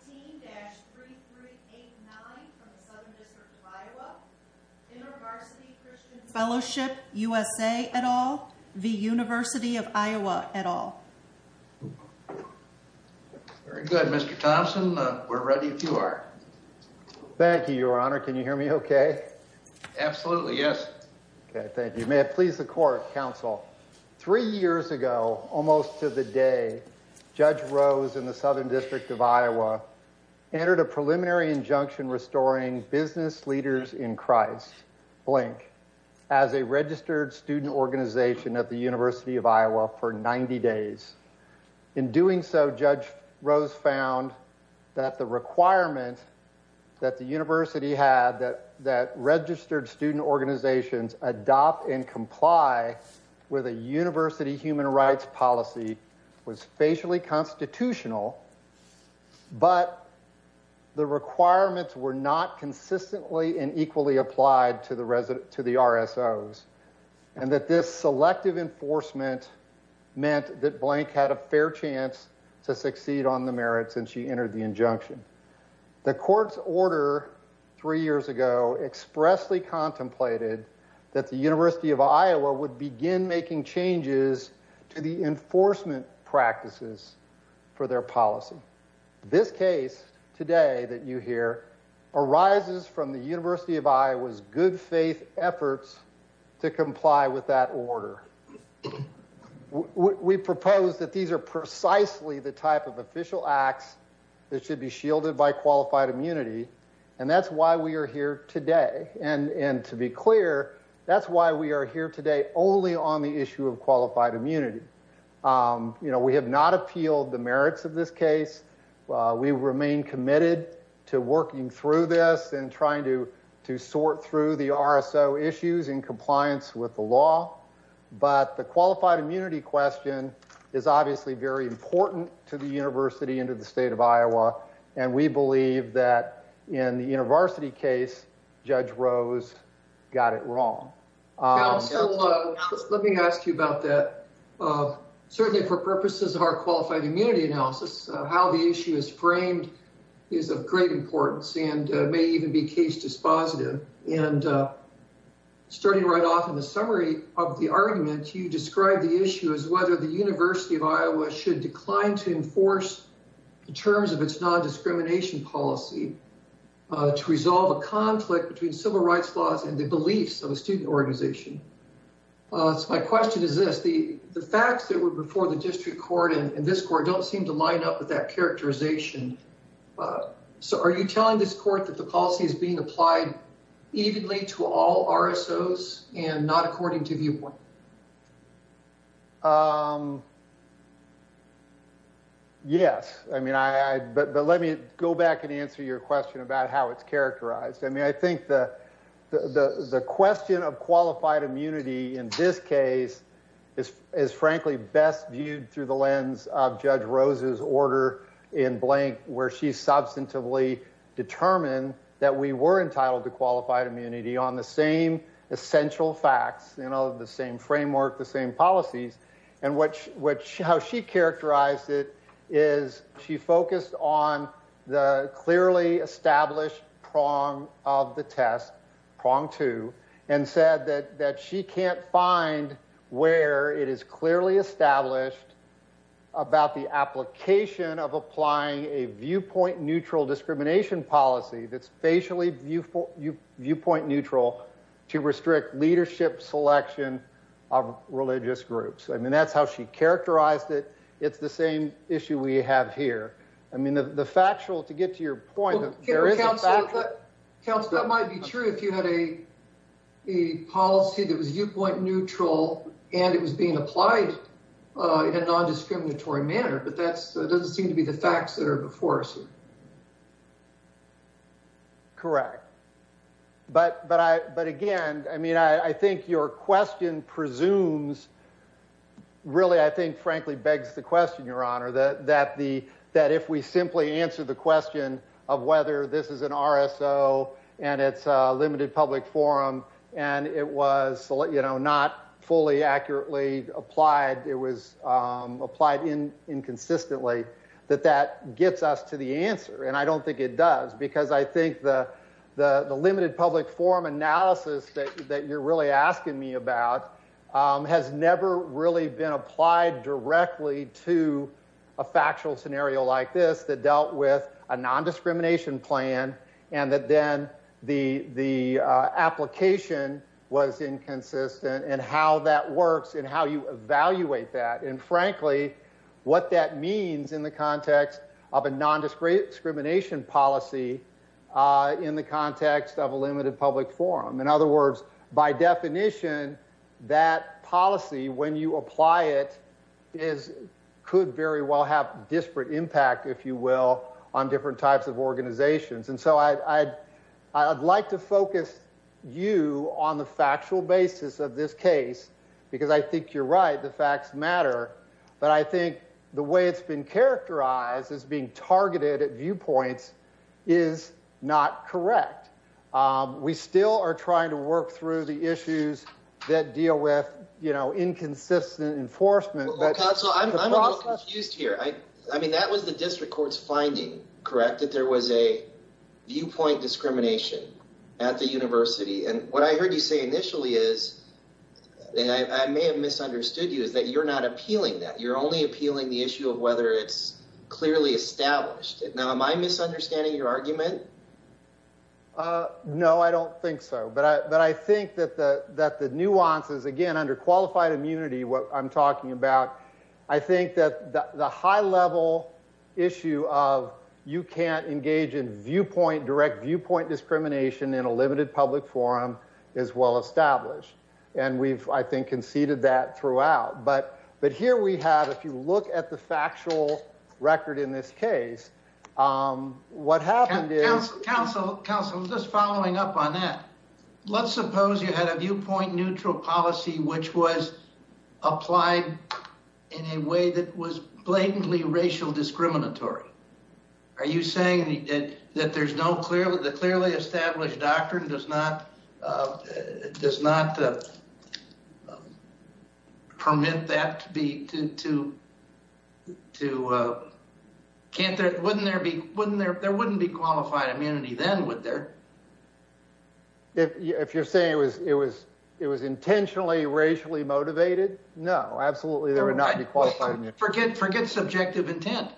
15-3389 from the Southern District of Iowa, Invarsity Christian Fellowship, USA et al. v. University of Iowa et al. Very good, Mr. Thompson. We're ready if you are. Thank you, Your Honor. Can you hear me okay? Absolutely, yes. Okay, thank you. May it please the Court, Counsel. Three years ago, almost to the day, Judge Rose in the Southern District of Iowa entered a preliminary injunction restoring business leaders in Christ, blink, as a registered student organization at the University of Iowa for 90 days. In doing so, Judge Rose found that the requirement that the university had that registered student organizations adopt and comply with a university human rights policy was facially constitutional, but the requirements were not consistently and equally applied to the RSOs, and that this selective enforcement meant that blink had a fair chance to succeed on the merits, and she entered the injunction. The Court's order three years ago expressly contemplated that the University of Iowa would begin making changes to the enforcement practices for their policy. This case today that you hear arises from the University of Iowa's good faith efforts to comply with that order. We propose that these are precisely the type of official acts that should be shielded by qualified immunity, and that's why we are here today. And to be clear, that's why we are here today only on the issue of qualified immunity. We have not appealed the merits of this case. We remain committed to working through this and trying to sort through the RSO issues in compliance with the law, but the qualified immunity question is obviously very important to the university and to the state of Iowa, and we believe that in the university case, Judge Rose got it wrong. Let me ask you about that. Certainly, for purposes of our qualified immunity analysis, how the issue is framed is of great importance and may even be case dispositive. Starting right off in the summary of the argument, you described the issue as whether the University of Iowa should decline to enforce the terms of its non-discrimination policy to resolve a conflict between civil rights laws and the beliefs of a student organization. My question is this. The facts that were before the district court and this court don't seem to line up with that characterization, so are you telling this court that the policy is being applied evenly to all RSOs and not according to viewpoint? Yes. But let me go back and answer your question about how it's characterized. I mean, I think the question of qualified immunity in this case is frankly best viewed through the lens of Judge Rose's order in Blank where she substantively determined that we were entitled to qualified immunity on the same essential facts, the same framework, the same policies. And how she characterized it is she focused on the clearly established prong of the test, prong two, and said that she can't find where it is clearly established about the application of applying a viewpoint neutral discrimination policy that's facially viewpoint neutral to restrict leadership selection of religious groups. I mean, that's how she characterized it. It's the same issue we have here. I mean, the factual, to get to your point, there is a factual. Counsel, that might be true if you had a policy that was viewpoint neutral and it was being applied in a non-discriminatory manner, but that doesn't seem to be the facts that are before us here. Correct. But again, I mean, I think your question presumes, really I think frankly begs the question, Your Honor, that if we simply answer the question of whether this is an RSO and it's a limited public forum and it was not fully accurately applied, it was applied inconsistently, that that gets us to the answer. And I don't think it does, because I think the limited public forum analysis that you're really asking me about has never really been applied directly to a factual scenario like this that dealt with a non-discrimination plan and that then the application was inconsistent and how that works and how you evaluate that. And frankly, what that means in the context of a non-discrimination policy in the context of a limited public forum. In other words, by definition, that policy, when you apply it, could very well have disparate impact, if you will, on different types of organizations. And so I'd like to focus you on the factual basis of this case, because I think you're right, the facts matter. But I think the way it's been characterized as being targeted at viewpoints is not correct. We still are trying to work through the issues that deal with inconsistent enforcement. Well, counsel, I'm a little confused here. I mean, that was the district court's finding, correct, that there was a viewpoint discrimination at the university. And what I heard you say initially is, and I may have misunderstood you, is that you're not appealing that. You're only appealing the issue of whether it's clearly established. Now, am I misunderstanding your argument? No, I don't think so. But I think that the nuances, again, under qualified immunity, what I'm talking about, I think that the high-level issue of you can't engage in direct viewpoint discrimination in a limited public forum is well established. And we've, I think, conceded that throughout. But here we have, if you look at the factual record in this case, what happened is— Counsel, just following up on that, let's suppose you had a viewpoint-neutral policy which was applied in a way that was blatantly racial discriminatory. Are you saying that the clearly established doctrine does not permit that to be— There wouldn't be qualified immunity then, would there? If you're saying it was intentionally racially motivated, no, absolutely there would not be qualified immunity. Forget subjective intent.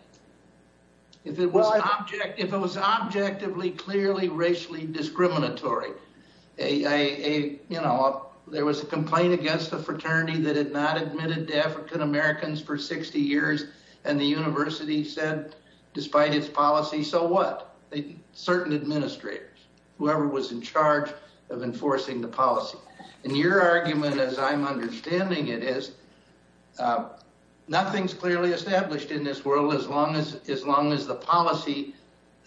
If it was objectively clearly racially discriminatory, you know, there was a complaint against a fraternity that had not admitted to African Americans for 60 years, and the university said, despite its policy, so what? Certain administrators, whoever was in charge of enforcing the policy. And your argument, as I'm understanding it, is nothing's clearly established in this world as long as the policy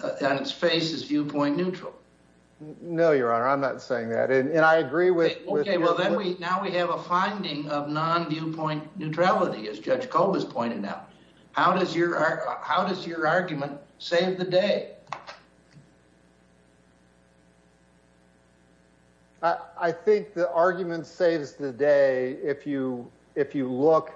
on its face is viewpoint-neutral. No, Your Honor, I'm not saying that. And I agree with— Now we have a finding of non-viewpoint neutrality, as Judge Kolb has pointed out. How does your argument save the day? I think the argument saves the day if you look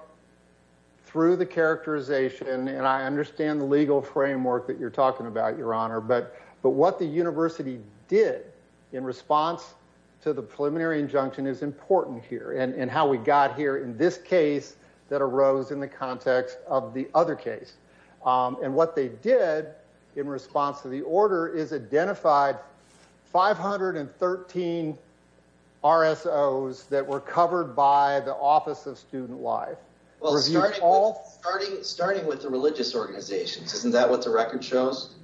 through the characterization, and I understand the legal framework that you're talking about, Your Honor, but what the university did in response to the preliminary injunction is important here, and how we got here in this case that arose in the context of the other case. And what they did in response to the order is identified 513 RSOs that were covered by the Office of Student Life. Well, starting with the religious organizations, isn't that what the record shows?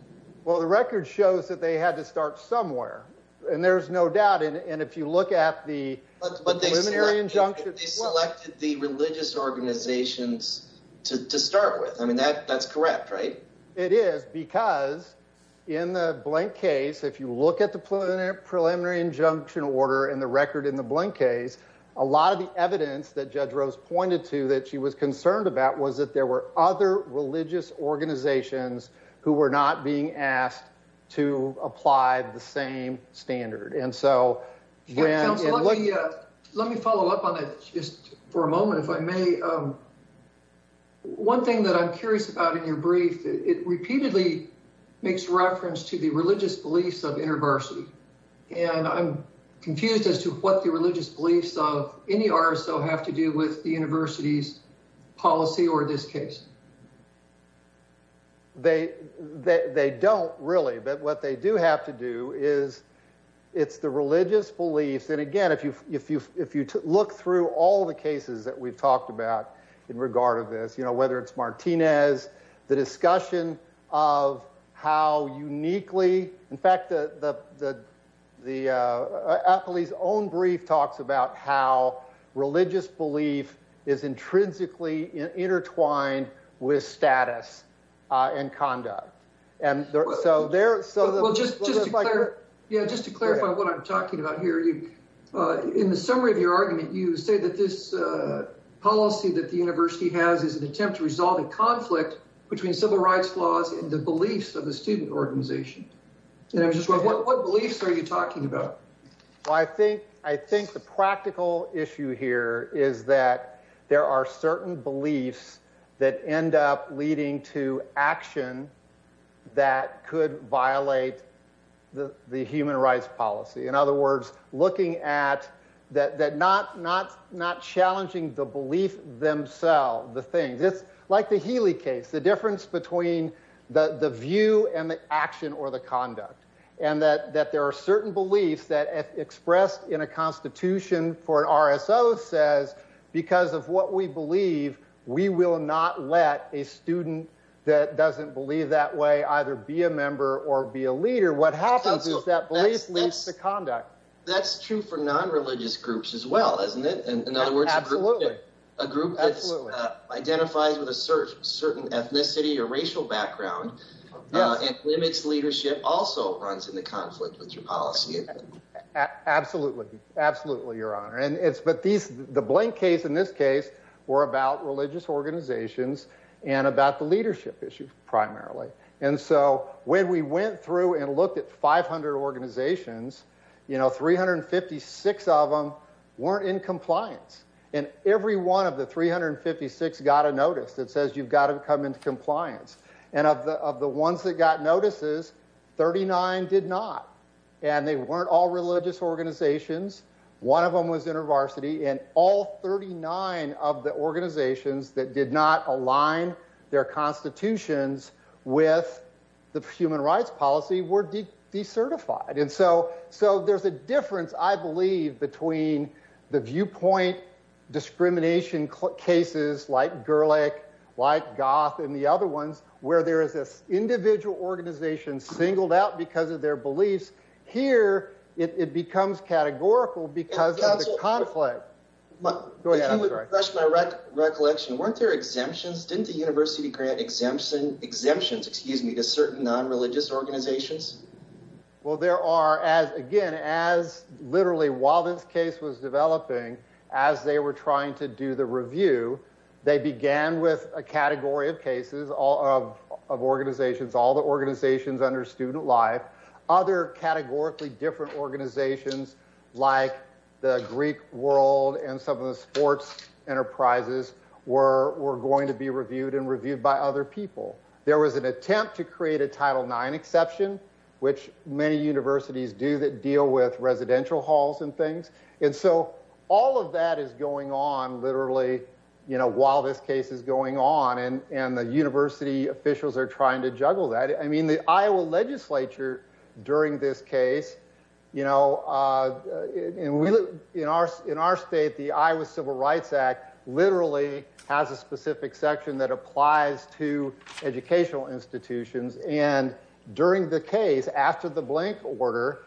Well, the record shows that they had to start somewhere, and there's no doubt. And if you look at the preliminary injunction— But they selected the religious organizations to start with. I mean, that's correct, right? It is, because in the blank case, if you look at the preliminary injunction order and the record in the blank case, a lot of the evidence that Judge Rose pointed to that she was concerned about was that there were other religious organizations who were not being asked to apply the same standard. And so— Counsel, let me follow up on that just for a moment, if I may. One thing that I'm curious about in your brief, it repeatedly makes reference to the religious beliefs of intervarsity, and I'm confused as to what the religious beliefs of any RSO have to do with the university's policy or this case. They don't, really. But what they do have to do is it's the religious beliefs— And again, if you look through all the cases that we've talked about in regard of this, whether it's Martinez, the discussion of how uniquely— Appley's own brief talks about how religious belief is intrinsically intertwined with status and conduct. And so there— Well, just to clarify what I'm talking about here, in the summary of your argument, you say that this policy that the university has is an attempt to resolve a conflict between civil rights laws and the beliefs of the student organization. What beliefs are you talking about? Well, I think the practical issue here is that there are certain beliefs that end up leading to action that could violate the human rights policy. In other words, looking at—not challenging the belief themselves, the things. Like the Healy case, the difference between the view and the action or the conduct. And that there are certain beliefs that expressed in a constitution for an RSO says, because of what we believe, we will not let a student that doesn't believe that way either be a member or be a leader. What happens is that belief leads to conduct. That's true for non-religious groups as well, isn't it? Absolutely. A group that identifies with a certain ethnicity or racial background and limits leadership also runs into conflict with your policy. Absolutely. Absolutely, Your Honor. But the Blank case and this case were about religious organizations and about the leadership issue, primarily. And so when we went through and looked at 500 organizations, you know, 356 of them weren't in compliance. And every one of the 356 got a notice that says you've got to come into compliance. And of the ones that got notices, 39 did not. And they weren't all religious organizations. One of them was intervarsity. And all 39 of the organizations that did not align their constitutions with the human rights policy were decertified. And so there's a difference, I believe, between the viewpoint discrimination cases like Gerlach, like Goff, and the other ones where there is this individual organization singled out because of their beliefs. Here it becomes categorical because of the conflict. If you would refresh my recollection, weren't there exemptions? Didn't the university grant exemptions to certain non-religious organizations? Well, there are. Again, as literally while this case was developing, as they were trying to do the review, they began with a category of cases of organizations, all the organizations under Student Life. Other categorically different organizations like the Greek world and some of the sports enterprises were going to be reviewed and reviewed by other people. There was an attempt to create a Title IX exception, which many universities do that deal with residential halls and things. And so all of that is going on literally while this case is going on. And the university officials are trying to juggle that. I mean, the Iowa legislature during this case, you know, in our state, the Iowa Civil Rights Act literally has a specific section that applies to educational institutions. And during the case, after the blank order,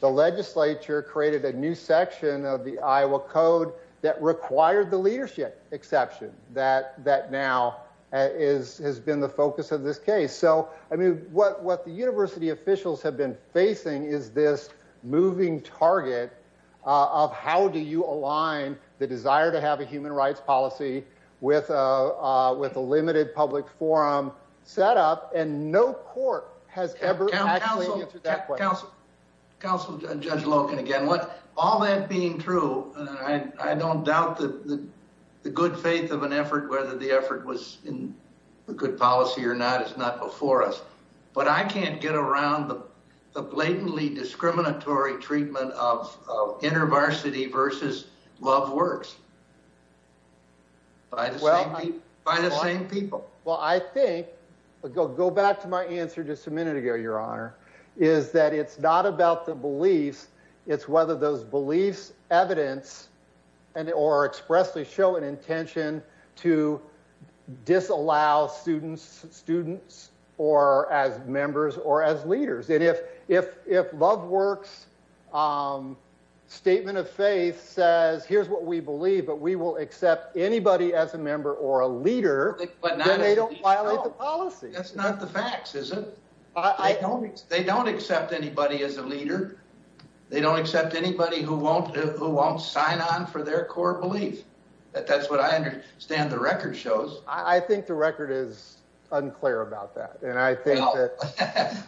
the legislature created a new section of the Iowa code that required the leadership exception that now has been the focus of this case. So, I mean, what the university officials have been facing is this moving target of how do you align the desire to have a human rights policy with a limited public forum set up. And no court has ever actually answered that question. Counsel, Judge Logan, again, all that being true, I don't doubt the good faith of an effort, whether the effort was in good policy or not, is not before us. But I can't get around the blatantly discriminatory treatment of inter-varsity versus love works by the same people. Well, I think, go back to my answer just a minute ago, your honor, is that it's not about the beliefs, it's whether those beliefs, evidence, or expressly show an intention to disallow students or as members or as leaders. And if love works' statement of faith says, here's what we believe, but we will accept anybody as a member or a leader, then they don't violate the policy. That's not the facts, is it? They don't accept anybody as a leader. They don't accept anybody who won't sign on for their core belief. That's what I understand the record shows. I think the record is unclear about that.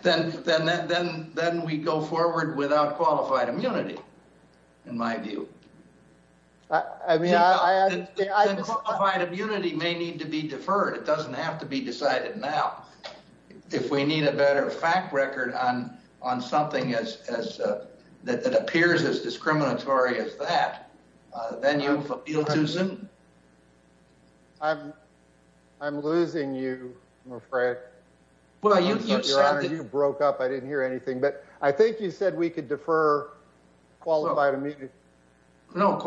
Then we go forward without qualified immunity, in my view. I mean, I... Qualified immunity may need to be deferred. It doesn't have to be decided now. If we need a better fact record on something that appears as discriminatory as that, then you've appealed too soon. I'm losing you, I'm afraid. Your honor, you broke up. I didn't hear anything. But I think you said we could defer qualified immunity. Well,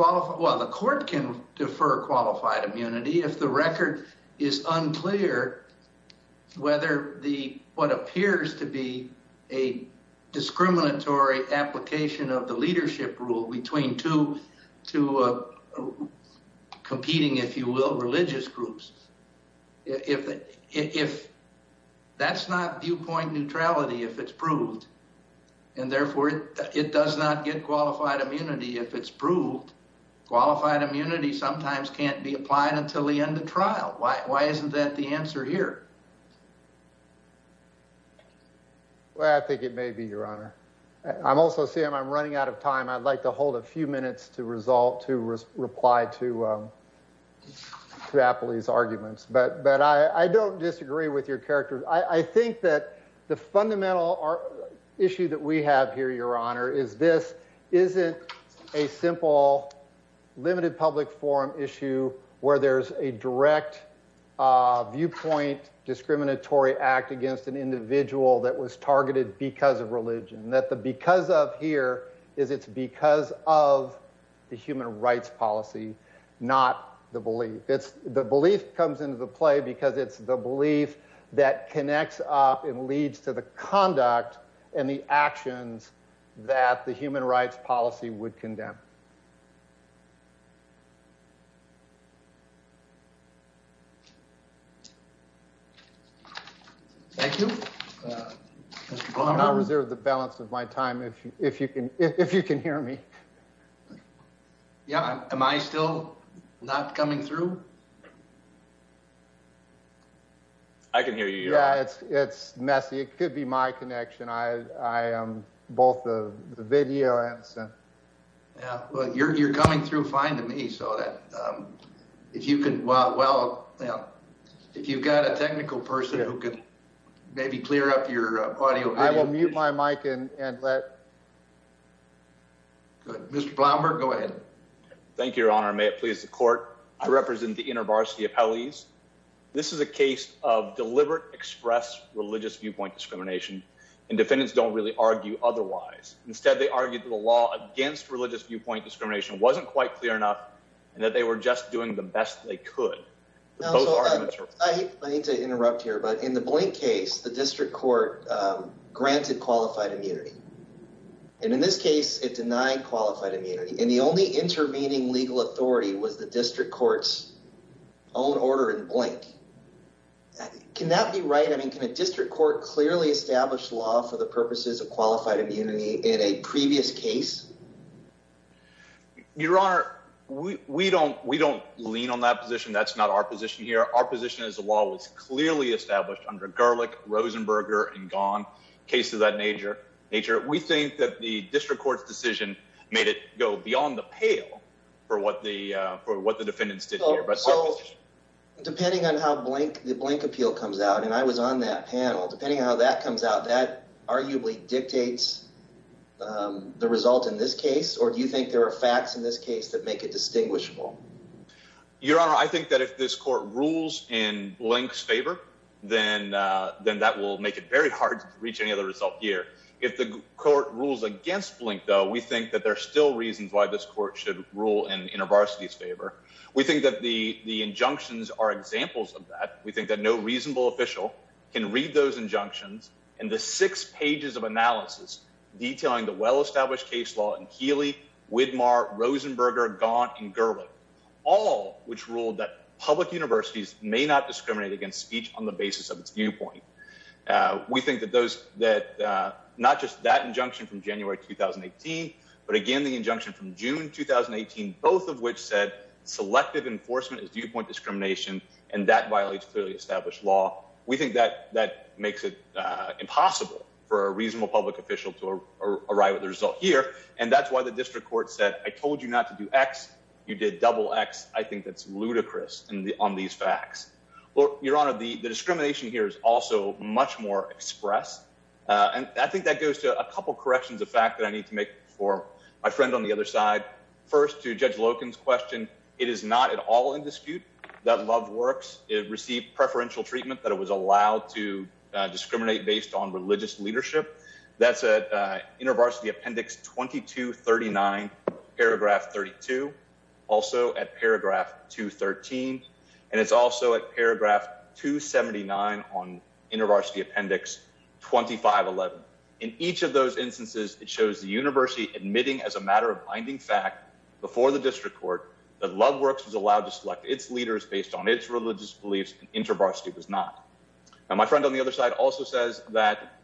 the court can defer qualified immunity if the record is unclear whether what appears to be a discriminatory application of the leadership rule between two competing, if you will, religious groups. That's not viewpoint neutrality if it's proved, and therefore it does not get qualified immunity if it's proved. Qualified immunity sometimes can't be applied until the end of trial. Why isn't that the answer here? I think it may be, your honor. I'm also, Sam, I'm running out of time. I'd like to hold a few minutes to reply to Appley's arguments. But I don't disagree with your character. I think that the fundamental issue that we have here, your honor, is this isn't a simple limited public forum issue where there's a direct viewpoint discriminatory act against an individual that was targeted because of religion. That the because of here is it's because of the human rights policy, not the belief. The belief comes into the play because it's the belief that connects up and leads to the conduct and the actions that the human rights policy would condemn. Thank you. I'll reserve the balance of my time if you if you can, if you can hear me. Yeah. Am I still not coming through? I can hear you. Yeah, it's it's messy. It could be my connection. I am both the video and. Yeah, well, you're you're coming through fine to me. So that if you can. Well, well, if you've got a technical person who could maybe clear up your audio. I will mute my mic and let. Mr. Blumberg, go ahead. Thank you, your honor. May it please the court. I represent the inner varsity appellees. This is a case of deliberate express religious viewpoint discrimination and defendants don't really argue otherwise. Instead, they argued the law against religious viewpoint discrimination wasn't quite clear enough and that they were just doing the best they could. I need to interrupt here, but in the point case, the district court granted qualified immunity. And in this case, it denied qualified immunity and the only intervening legal authority was the district court's own order in blank. Can that be right? I mean, can a district court clearly establish law for the purposes of qualified immunity in a previous case? Your honor, we don't we don't lean on that position. That's not our position here. Our position is the law was clearly established under garlic, Rosenberger and gone cases of that nature. Nature. We think that the district court's decision made it go beyond the pale for what the for what the defendants did here. But so depending on how blank the blank appeal comes out, and I was on that panel, depending on how that comes out, that arguably dictates the result in this case. Or do you think there are facts in this case that make it distinguishable? Your honor, I think that if this court rules in blanks favor, then then that will make it very hard to reach any other result here. If the court rules against blink, though, we think that there are still reasons why this court should rule in a varsity's favor. We think that the the injunctions are examples of that. We think that no reasonable official can read those injunctions. And the six pages of analysis detailing the well-established case law and Healy Widmar, Rosenberger, Gaunt and Gurley. All which ruled that public universities may not discriminate against speech on the basis of its viewpoint. We think that those that not just that injunction from January 2018, but again, the injunction from June 2018, both of which said selective enforcement is viewpoint discrimination and that violates clearly established law. We think that that makes it impossible for a reasonable public official to arrive at the result here. And that's why the district court said, I told you not to do X. You did double X. I think that's ludicrous. And on these facts, your honor, the discrimination here is also much more express. And I think that goes to a couple of corrections, a fact that I need to make for my friend on the other side. First, to judge Logan's question, it is not at all in dispute that love works. It received preferential treatment that it was allowed to discriminate based on religious leadership. That's a inner varsity appendix. Twenty two. Thirty nine. Paragraph. Thirty two. Also at paragraph two. Thirteen. And it's also at paragraph two. Seventy nine on inner varsity appendix. Twenty five. Eleven. In each of those instances, it shows the university admitting as a matter of binding fact before the district court. The love works was allowed to select its leaders based on its religious beliefs. Intervarsity was not. And my friend on the other side also says that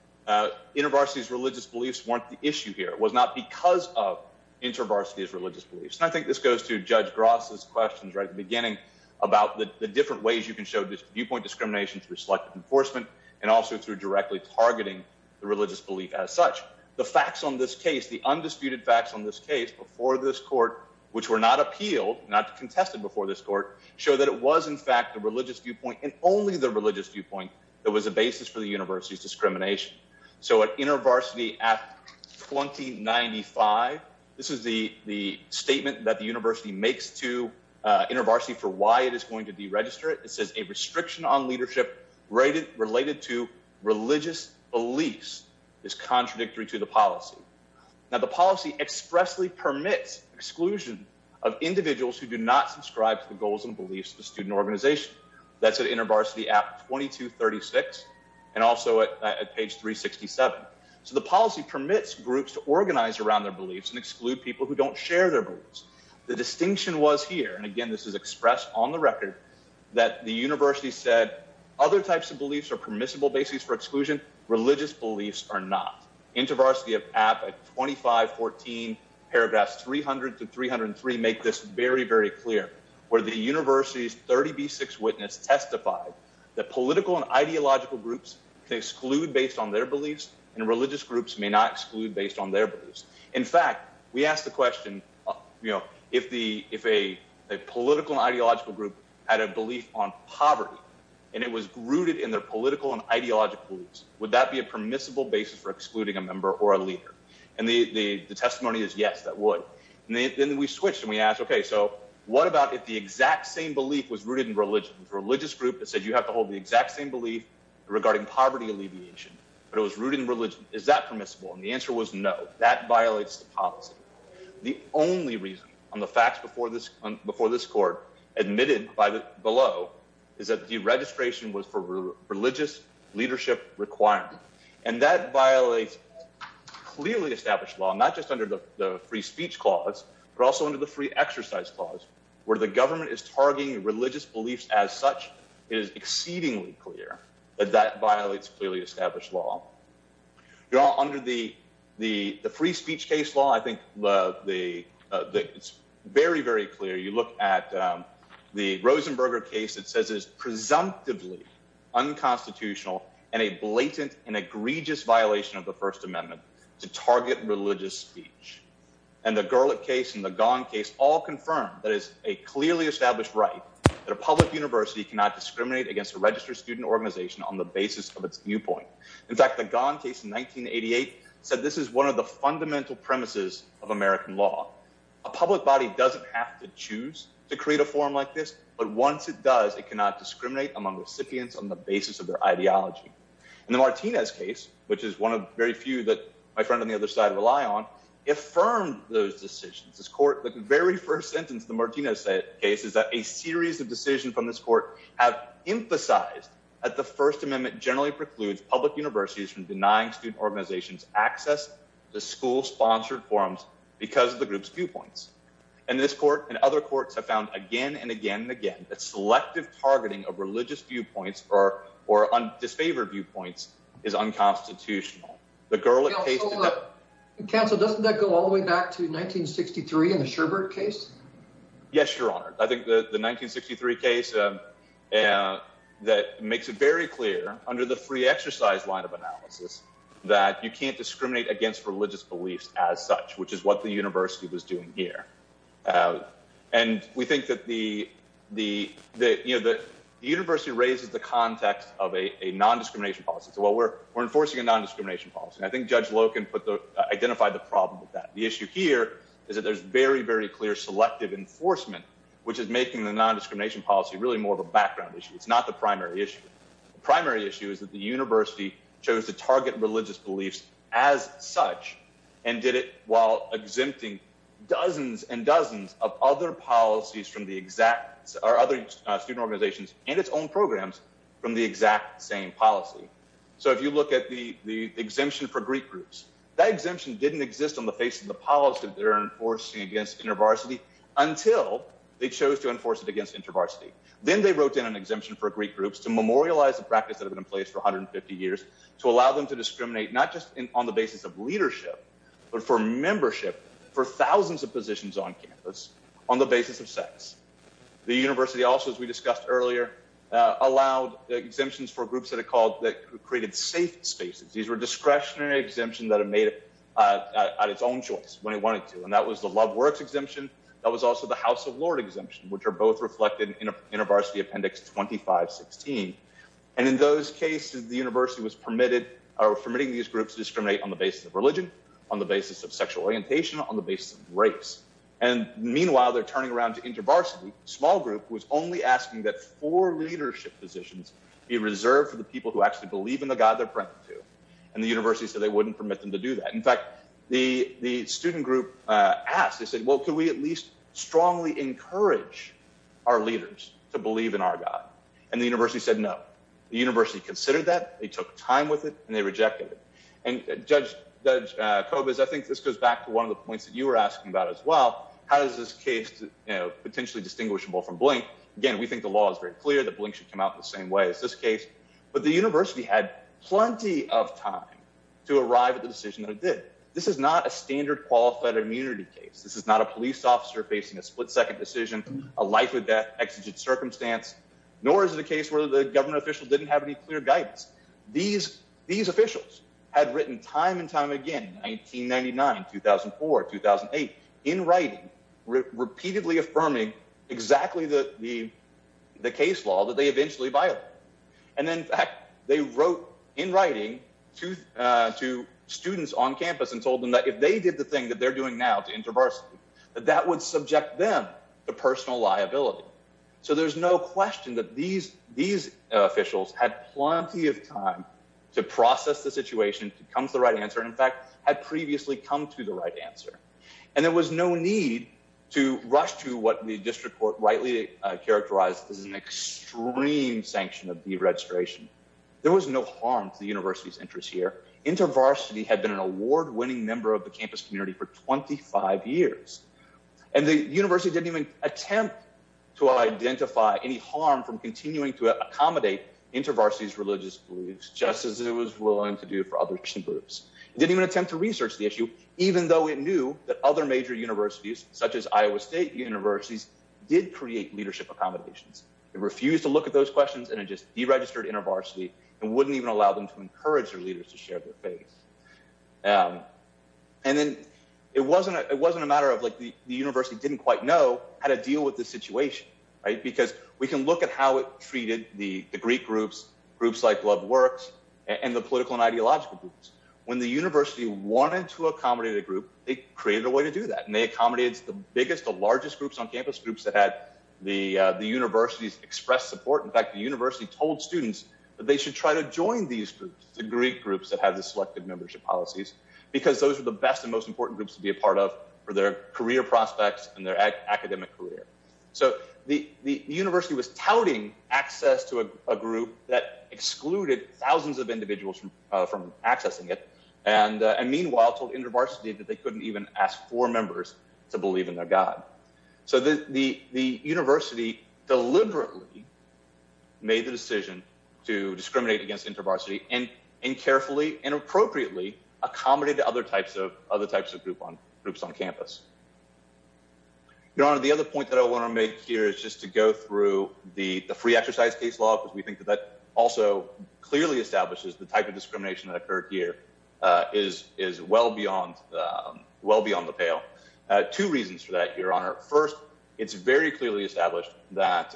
intervarsities religious beliefs weren't the issue here. It was not because of intervarsity of religious beliefs. And I think this goes to Judge Gross's questions right at the beginning about the different ways you can show this viewpoint discrimination through selective enforcement and also through directly targeting the religious belief as such. The facts on this case, the undisputed facts on this case before this court, which were not appealed, not contested before this court, show that it was, in fact, a religious viewpoint and only the religious viewpoint that was a basis for the university's discrimination. So at inner varsity at twenty ninety five. This is the the statement that the university makes to intervarsity for why it is going to deregister it. It says a restriction on leadership rated related to religious beliefs is contradictory to the policy. Now, the policy expressly permits exclusion of individuals who do not subscribe to the goals and beliefs of the student organization. That's an intervarsity at twenty two thirty six and also at page three sixty seven. So the policy permits groups to organize around their beliefs and exclude people who don't share their beliefs. The distinction was here. And again, this is expressed on the record that the university said other types of beliefs are permissible. Basis for exclusion. Religious beliefs are not intervarsity of at twenty five. Fourteen paragraphs. Three hundred to three hundred and three make this very, very clear. Where the university's 30B6 witness testified that political and ideological groups exclude based on their beliefs and religious groups may not exclude based on their beliefs. In fact, we asked the question, you know, if the if a political ideological group had a belief on poverty and it was rooted in their political and ideological beliefs, would that be a permissible basis for excluding a member or a leader? And the testimony is, yes, that would. And then we switched and we asked, OK, so what about if the exact same belief was rooted in religion, religious group that said you have to hold the exact same belief regarding poverty alleviation? But it was rooted in religion. Is that permissible? And the answer was no. That violates the policy. The only reason on the facts before this, before this court admitted by the below is that the registration was for religious leadership requirement. And that violates clearly established law, not just under the free speech clause, but also under the free exercise clause where the government is targeting religious beliefs as such. It is exceedingly clear that that violates clearly established law under the the free speech case law. I think the it's very, very clear. You look at the Rosenberger case. It says it is presumptively unconstitutional and a blatant and egregious violation of the First Amendment to target religious speech. And the Garlick case in the gun case all confirm that is a clearly established right. The public university cannot discriminate against a registered student organization on the basis of its viewpoint. In fact, the gun case in 1988 said this is one of the fundamental premises of American law. A public body doesn't have to choose to create a forum like this. But once it does, it cannot discriminate among recipients on the basis of their ideology. And the Martinez case, which is one of very few that my friend on the other side rely on, affirmed those decisions. This court, the very first sentence, the Martinez case, is that a series of decisions from this court have emphasized that the First Amendment generally precludes public universities from denying student organizations access to school sponsored forums because of the group's viewpoints. And this court and other courts have found again and again and again that selective targeting of religious viewpoints or or on disfavored viewpoints is unconstitutional. The girl at the council doesn't go all the way back to 1963 in the Sherbert case. Yes, Your Honor. I think the 1963 case that makes it very clear under the free exercise line of analysis that you can't discriminate against religious beliefs as such, which is what the university was doing here. And we think that the the the university raises the context of a nondiscrimination policy. So what we're we're enforcing a nondiscrimination policy. And I think Judge Loken put the identified the problem with that. The issue here is that there's very, very clear selective enforcement, which is making the nondiscrimination policy really more of a background issue. It's not the primary issue. The primary issue is that the university chose to target religious beliefs as such and did it while exempting dozens and dozens of other policies from the exact or other student organizations and its own programs from the exact same policy. So if you look at the exemption for Greek groups, that exemption didn't exist on the face of the policy they're enforcing against intervarsity until they chose to enforce it against intervarsity. Then they wrote in an exemption for Greek groups to memorialize the practice that have been in place for 150 years to allow them to discriminate, not just on the basis of leadership, but for membership for thousands of positions on campus on the basis of sex. The university also, as we discussed earlier, allowed exemptions for groups that are called that created safe spaces. These were discretionary exemption that have made it at its own choice when he wanted to. And that was the love works exemption. That was also the House of Lord exemption, which are both reflected in a intervarsity appendix, 25, 16. And in those cases, the university was permitted or permitting these groups discriminate on the basis of religion, on the basis of sexual orientation, on the basis of race. And meanwhile, they're turning around to intervarsity. Small group was only asking that for leadership positions be reserved for the people who actually believe in the God they're praying to. And the university said they wouldn't permit them to do that. In fact, the student group asked, they said, well, can we at least strongly encourage our leaders to believe in our God? And the university said, no, the university considered that they took time with it and they rejected it. And Judge Cobas, I think this goes back to one of the points that you were asking about as well. How does this case potentially distinguishable from blank? Again, we think the law is very clear that should come out the same way as this case. But the university had plenty of time to arrive at the decision that it did. This is not a standard qualified immunity case. This is not a police officer facing a split second decision, a life or death exigent circumstance. Nor is it a case where the government official didn't have any clear guidance. These these officials had written time and time again, 1999, 2004, 2008, in writing, repeatedly affirming exactly the the the case law that they eventually buy it. And in fact, they wrote in writing to two students on campus and told them that if they did the thing that they're doing now to interverse, that that would subject them to personal liability. So there's no question that these these officials had plenty of time to process the situation. Comes the right answer, in fact, had previously come to the right answer. And there was no need to rush to what the district court rightly characterized as an extreme sanction of deregistration. There was no harm to the university's interest here. Intervarsity had been an award winning member of the campus community for twenty five years. And the university didn't even attempt to identify any harm from continuing to accommodate intervarsities, religious beliefs, just as it was willing to do for other groups. It didn't even attempt to research the issue, even though it knew that other major universities, such as Iowa State Universities, did create leadership accommodations. It refused to look at those questions and it just deregistered intervarsity and wouldn't even allow them to encourage their leaders to share their faith. And then it wasn't it wasn't a matter of like the university didn't quite know how to deal with the situation, because we can look at how it treated the Greek groups, groups like Love Works and the political and ideological groups. When the university wanted to accommodate a group, it created a way to do that. And they accommodates the biggest, the largest groups on campus, groups that had the universities express support. In fact, the university told students that they should try to join these groups, the Greek groups that have the selected membership policies, because those are the best and most important groups to be a part of for their career prospects and their academic career. So the university was touting access to a group that excluded thousands of individuals from accessing it. And meanwhile, told intervarsity that they couldn't even ask for members to believe in their God. So the the the university deliberately. Made the decision to discriminate against intervarsity and and carefully and appropriately accommodated other types of other types of group on groups on campus. You know, the other point that I want to make here is just to go through the free exercise case law, because we think that that also clearly establishes the type of discrimination that occurred here is is well beyond well beyond the pale. Two reasons for that, your honor. First, it's very clearly established that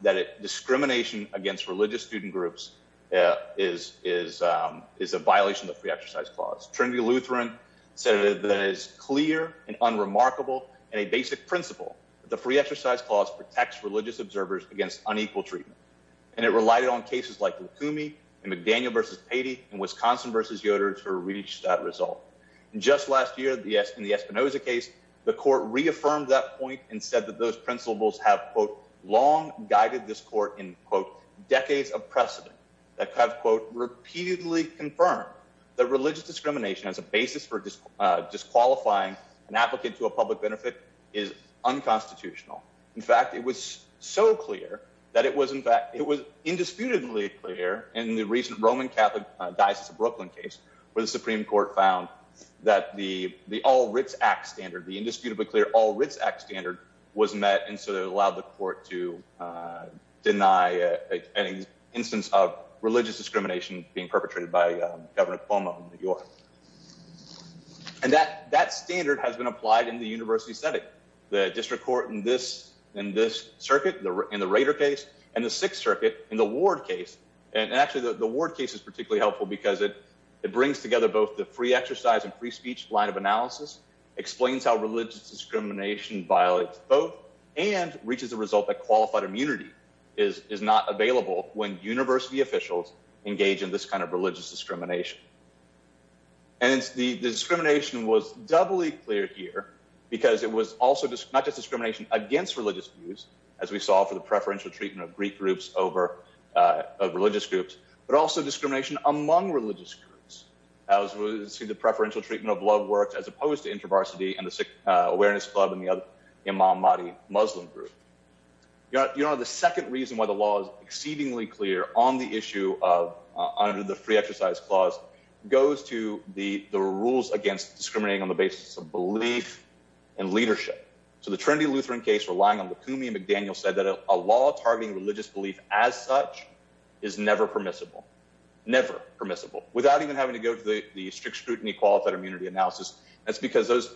that discrimination against religious student groups is is is a violation of the exercise clause. Trinity Lutheran said that is clear and unremarkable and a basic principle. The free exercise clause protects religious observers against unequal treatment. And it relied on cases like me and McDaniel versus Haiti and Wisconsin versus Yoder to reach that result. And just last year, the in the Espinoza case, the court reaffirmed that point and said that those principles have long guided this court in decades of precedent. That have, quote, repeatedly confirmed that religious discrimination as a basis for disqualifying an applicant to a public benefit is unconstitutional. In fact, it was so clear that it was, in fact, it was indisputably clear in the recent Roman Catholic Diocese of Brooklyn case where the Supreme Court found that the the all writs act standard, the indisputably clear all writs act standard was met. And so they allowed the court to deny any instance of religious discrimination being perpetrated by Governor Cuomo. And that that standard has been applied in the university setting the district court in this in this circuit in the Raider case and the Sixth Circuit in the ward case. And actually, the word case is particularly helpful because it brings together both the free exercise and free speech line of analysis explains how religious discrimination violates both and reaches the result that qualified immunity is is not available when university officials engage in this kind of religious discrimination. And it's the discrimination was doubly clear here because it was also not just discrimination against religious views, as we saw for the preferential treatment of Greek groups over religious groups, but also discrimination among religious groups. As we see, the preferential treatment of love works as opposed to intervarsity and the sick awareness club and the Imam Mahdi Muslim group. You know, the second reason why the law is exceedingly clear on the issue of under the free exercise clause goes to the the rules against discriminating on the basis of belief and leadership. So the Trinity Lutheran case relying on the Kumi McDaniel said that a law targeting religious belief as such is never permissible, never permissible without even having to go to the strict scrutiny qualified immunity analysis. That's because those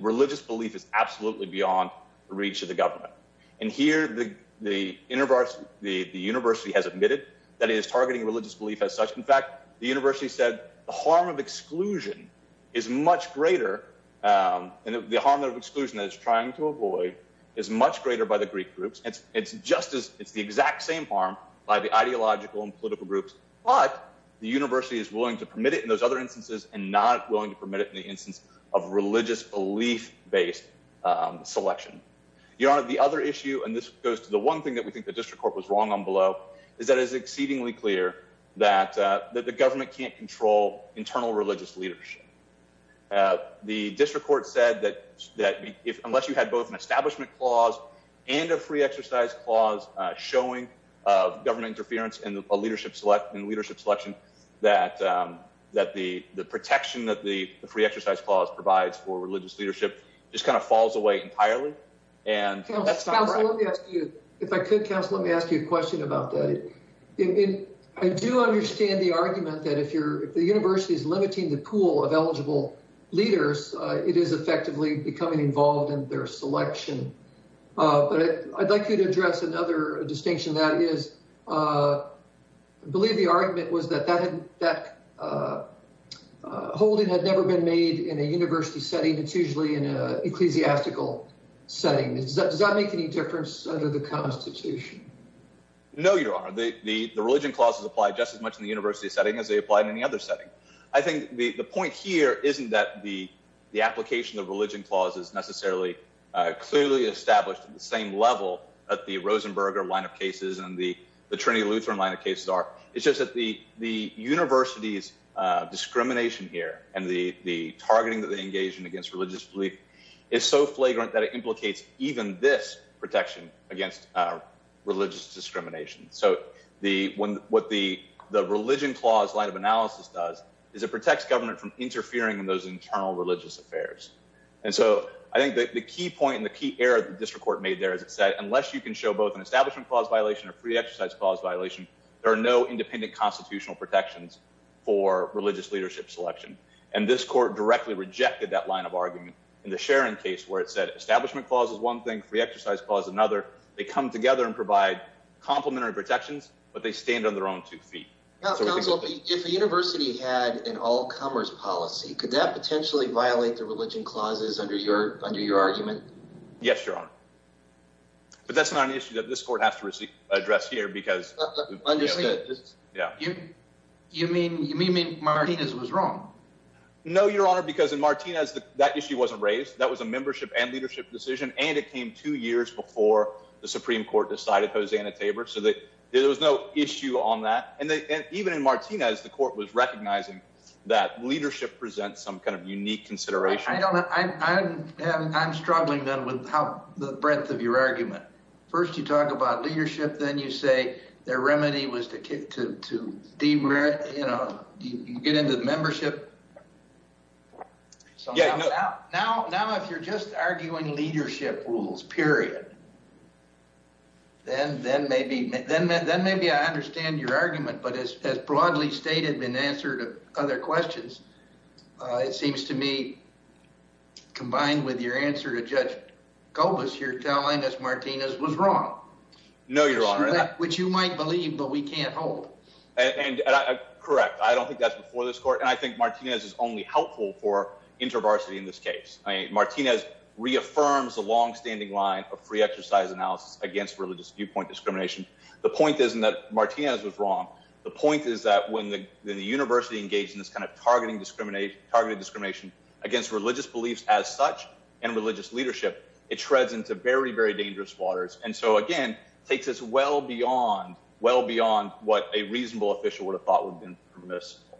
religious belief is absolutely beyond the reach of the government. And here the universe, the university has admitted that is targeting religious belief as such. In fact, the university said the harm of exclusion is much greater. And the harm of exclusion is trying to avoid is much greater by the Greek groups. It's just as it's the exact same harm by the ideological and political groups. But the university is willing to permit it in those other instances and not willing to permit it in the instance of religious belief based selection. Your Honor, the other issue, and this goes to the one thing that we think the district court was wrong on below, is that is exceedingly clear that the government can't control internal religious leadership. The district court said that that if unless you had both an establishment clause and a free exercise clause showing of government interference in a leadership select and leadership selection, that that the protection that the free exercise clause provides for religious leadership just kind of falls away entirely. And if I could cancel, let me ask you a question about that. I do understand the argument that if you're the university's limiting the pool of eligible leaders, it is effectively becoming involved in their selection. But I'd like you to address another distinction. That is, I believe the argument was that that that holding had never been made in a university setting. It's usually in a ecclesiastical setting. Does that make any difference under the Constitution? No, Your Honor, the religion clauses apply just as much in the university setting as they apply in any other setting. I think the point here isn't that the application of religion clauses necessarily clearly established at the same level at the Rosenberger line of cases and the Trinity Lutheran line of cases are. It's just that the the university's discrimination here and the targeting that they engage in against religious belief is so flagrant that it implicates even this protection against religious discrimination. So the one what the the religion clause line of analysis does is it protects government from interfering in those internal religious affairs. And so I think the key point in the key error of the district court made there, as it said, unless you can show both an establishment clause violation of free exercise clause violation. There are no independent constitutional protections for religious leadership selection, and this court directly rejected that line of argument in the sharing case where it said establishment clauses. One thing free exercise clause. Another. They come together and provide complimentary protections, but they stand on their own two feet. If a university had an all comers policy, could that potentially violate the religion clauses under your under your argument? Yes, your honor. But that's not an issue that this court has to address here, because I just did. Yeah. You mean you mean Martinez was wrong? No, your honor, because in Martinez, that issue wasn't raised. That was a membership and leadership decision, and it came two years before the Supreme Court decided Hosanna Tabor so that there was no issue on that. And even in Martinez, the court was recognizing that leadership presents some kind of unique consideration. I'm struggling, then, with how the breadth of your argument. First, you talk about leadership. Then you say their remedy was to get into the membership. Now, if you're just arguing leadership rules, period. Then maybe I understand your argument, but as broadly stated in answer to other questions, it seems to me, combined with your answer to Judge Gullis, you're telling us Martinez was wrong. No, your honor. Which you might believe, but we can't hold. Correct. I don't think that's before this court, and I think Martinez is only helpful for intervarsity in this case. I mean, Martinez reaffirms the longstanding line of free exercise analysis against religious viewpoint discrimination. The point isn't that Martinez was wrong. The point is that when the university engaged in this kind of targeted discrimination against religious beliefs as such and religious leadership, it treads into very, very dangerous waters. And so, again, it takes us well beyond what a reasonable official would have thought would have been permissible.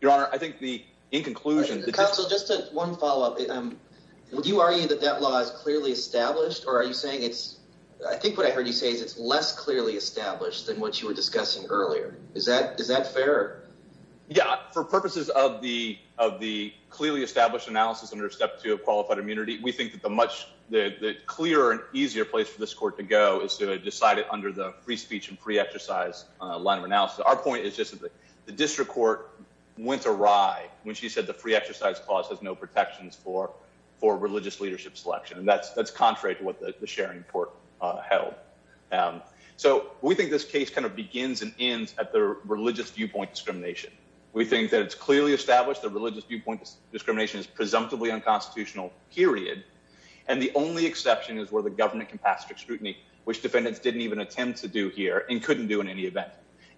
Your honor, I think the in conclusion. Counsel, just one follow up. Would you argue that that law is clearly established or are you saying it's I think what I heard you say is it's less clearly established than what you were discussing earlier. Is that is that fair? Yeah. For purposes of the of the clearly established analysis under step two of qualified immunity. We think that the much clearer and easier place for this court to go is to decide it under the free speech and free exercise line of analysis. Our point is just that the district court went awry when she said the free exercise clause has no protections for for religious leadership selection. And that's that's contrary to what the sharing court held. So we think this case kind of begins and ends at the religious viewpoint discrimination. We think that it's clearly established that religious viewpoint discrimination is presumptively unconstitutional, period. And the only exception is where the government can pass strict scrutiny, which defendants didn't even attempt to do here and couldn't do in any event.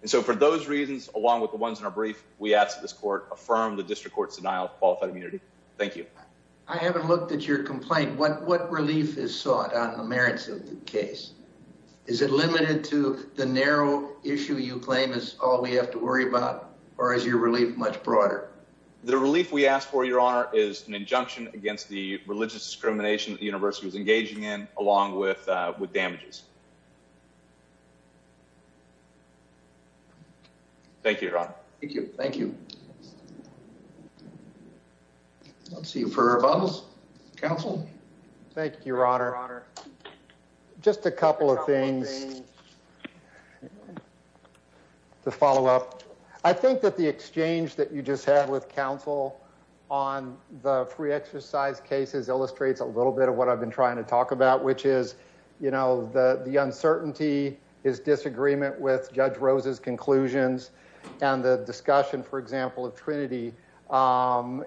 And so for those reasons, along with the ones in our brief, we asked this court affirm the district court's denial of qualified immunity. Thank you. I haven't looked at your complaint. What what relief is sought on the merits of the case? Is it limited to the narrow issue you claim is all we have to worry about or is your relief much broader? The relief we ask for, your honor, is an injunction against the religious discrimination. The university was engaging in along with with damages. Thank you. Thank you. Thank you. Let's see for our council. Thank you, your honor. Just a couple of things to follow up. I think that the exchange that you just had with counsel on the free exercise cases illustrates a little bit of what I've been trying to talk about, which is, you know, the uncertainty is disagreement with Judge Rose's conclusions. And the discussion, for example, of Trinity and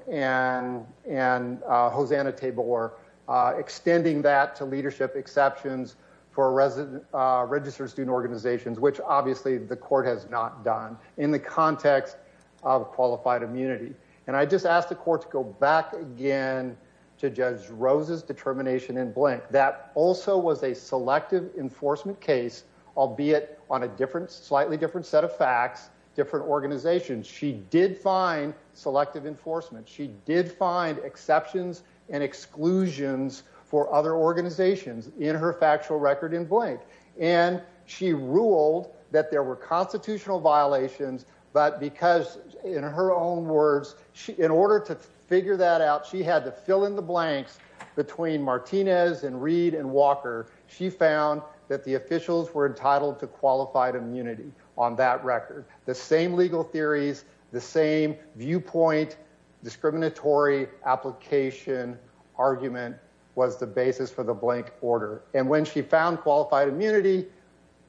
and Hosanna table or extending that to leadership exceptions for a resident registered student organizations, which obviously the court has not done in the context of qualified immunity. And I just asked the court to go back again to Judge Rose's determination in blank. That also was a selective enforcement case, albeit on a different, slightly different set of facts, different organizations. She did find selective enforcement. She did find exceptions and exclusions for other organizations in her factual record in blank. And she ruled that there were constitutional violations. But because in her own words, in order to figure that out, she had to fill in the blanks between Martinez and Reed and Walker. She found that the officials were entitled to qualified immunity on that record. The same legal theories, the same viewpoint, discriminatory application argument was the basis for the blank order. And when she found qualified immunity,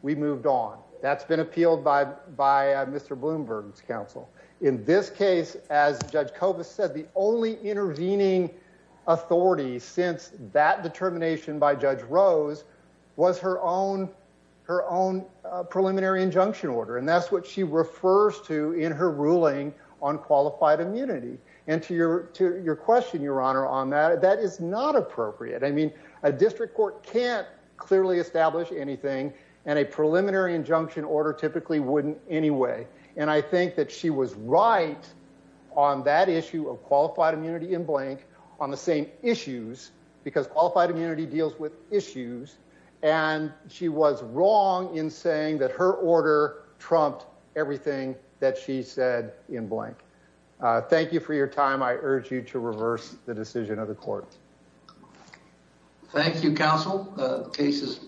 we moved on. That's been appealed by by Mr. Bloomberg's counsel. In this case, as Judge Koba said, the only intervening authority since that determination by Judge Rose was her own her own preliminary injunction order. And that's what she refers to in her ruling on qualified immunity. And to your to your question, Your Honor, on that, that is not appropriate. I mean, a district court can't clearly establish anything and a preliminary injunction order typically wouldn't anyway. And I think that she was right on that issue of qualified immunity in blank on the same issues because qualified immunity deals with issues. And she was wrong in saying that her order trumped everything that she said in blank. Thank you for your time. I urge you to reverse the decision of the court. Thank you, counsel. The case is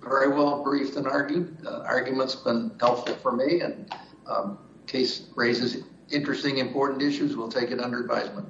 very well briefed and argued. Arguments been helpful for me and case raises interesting, important issues. We'll take it under advisement.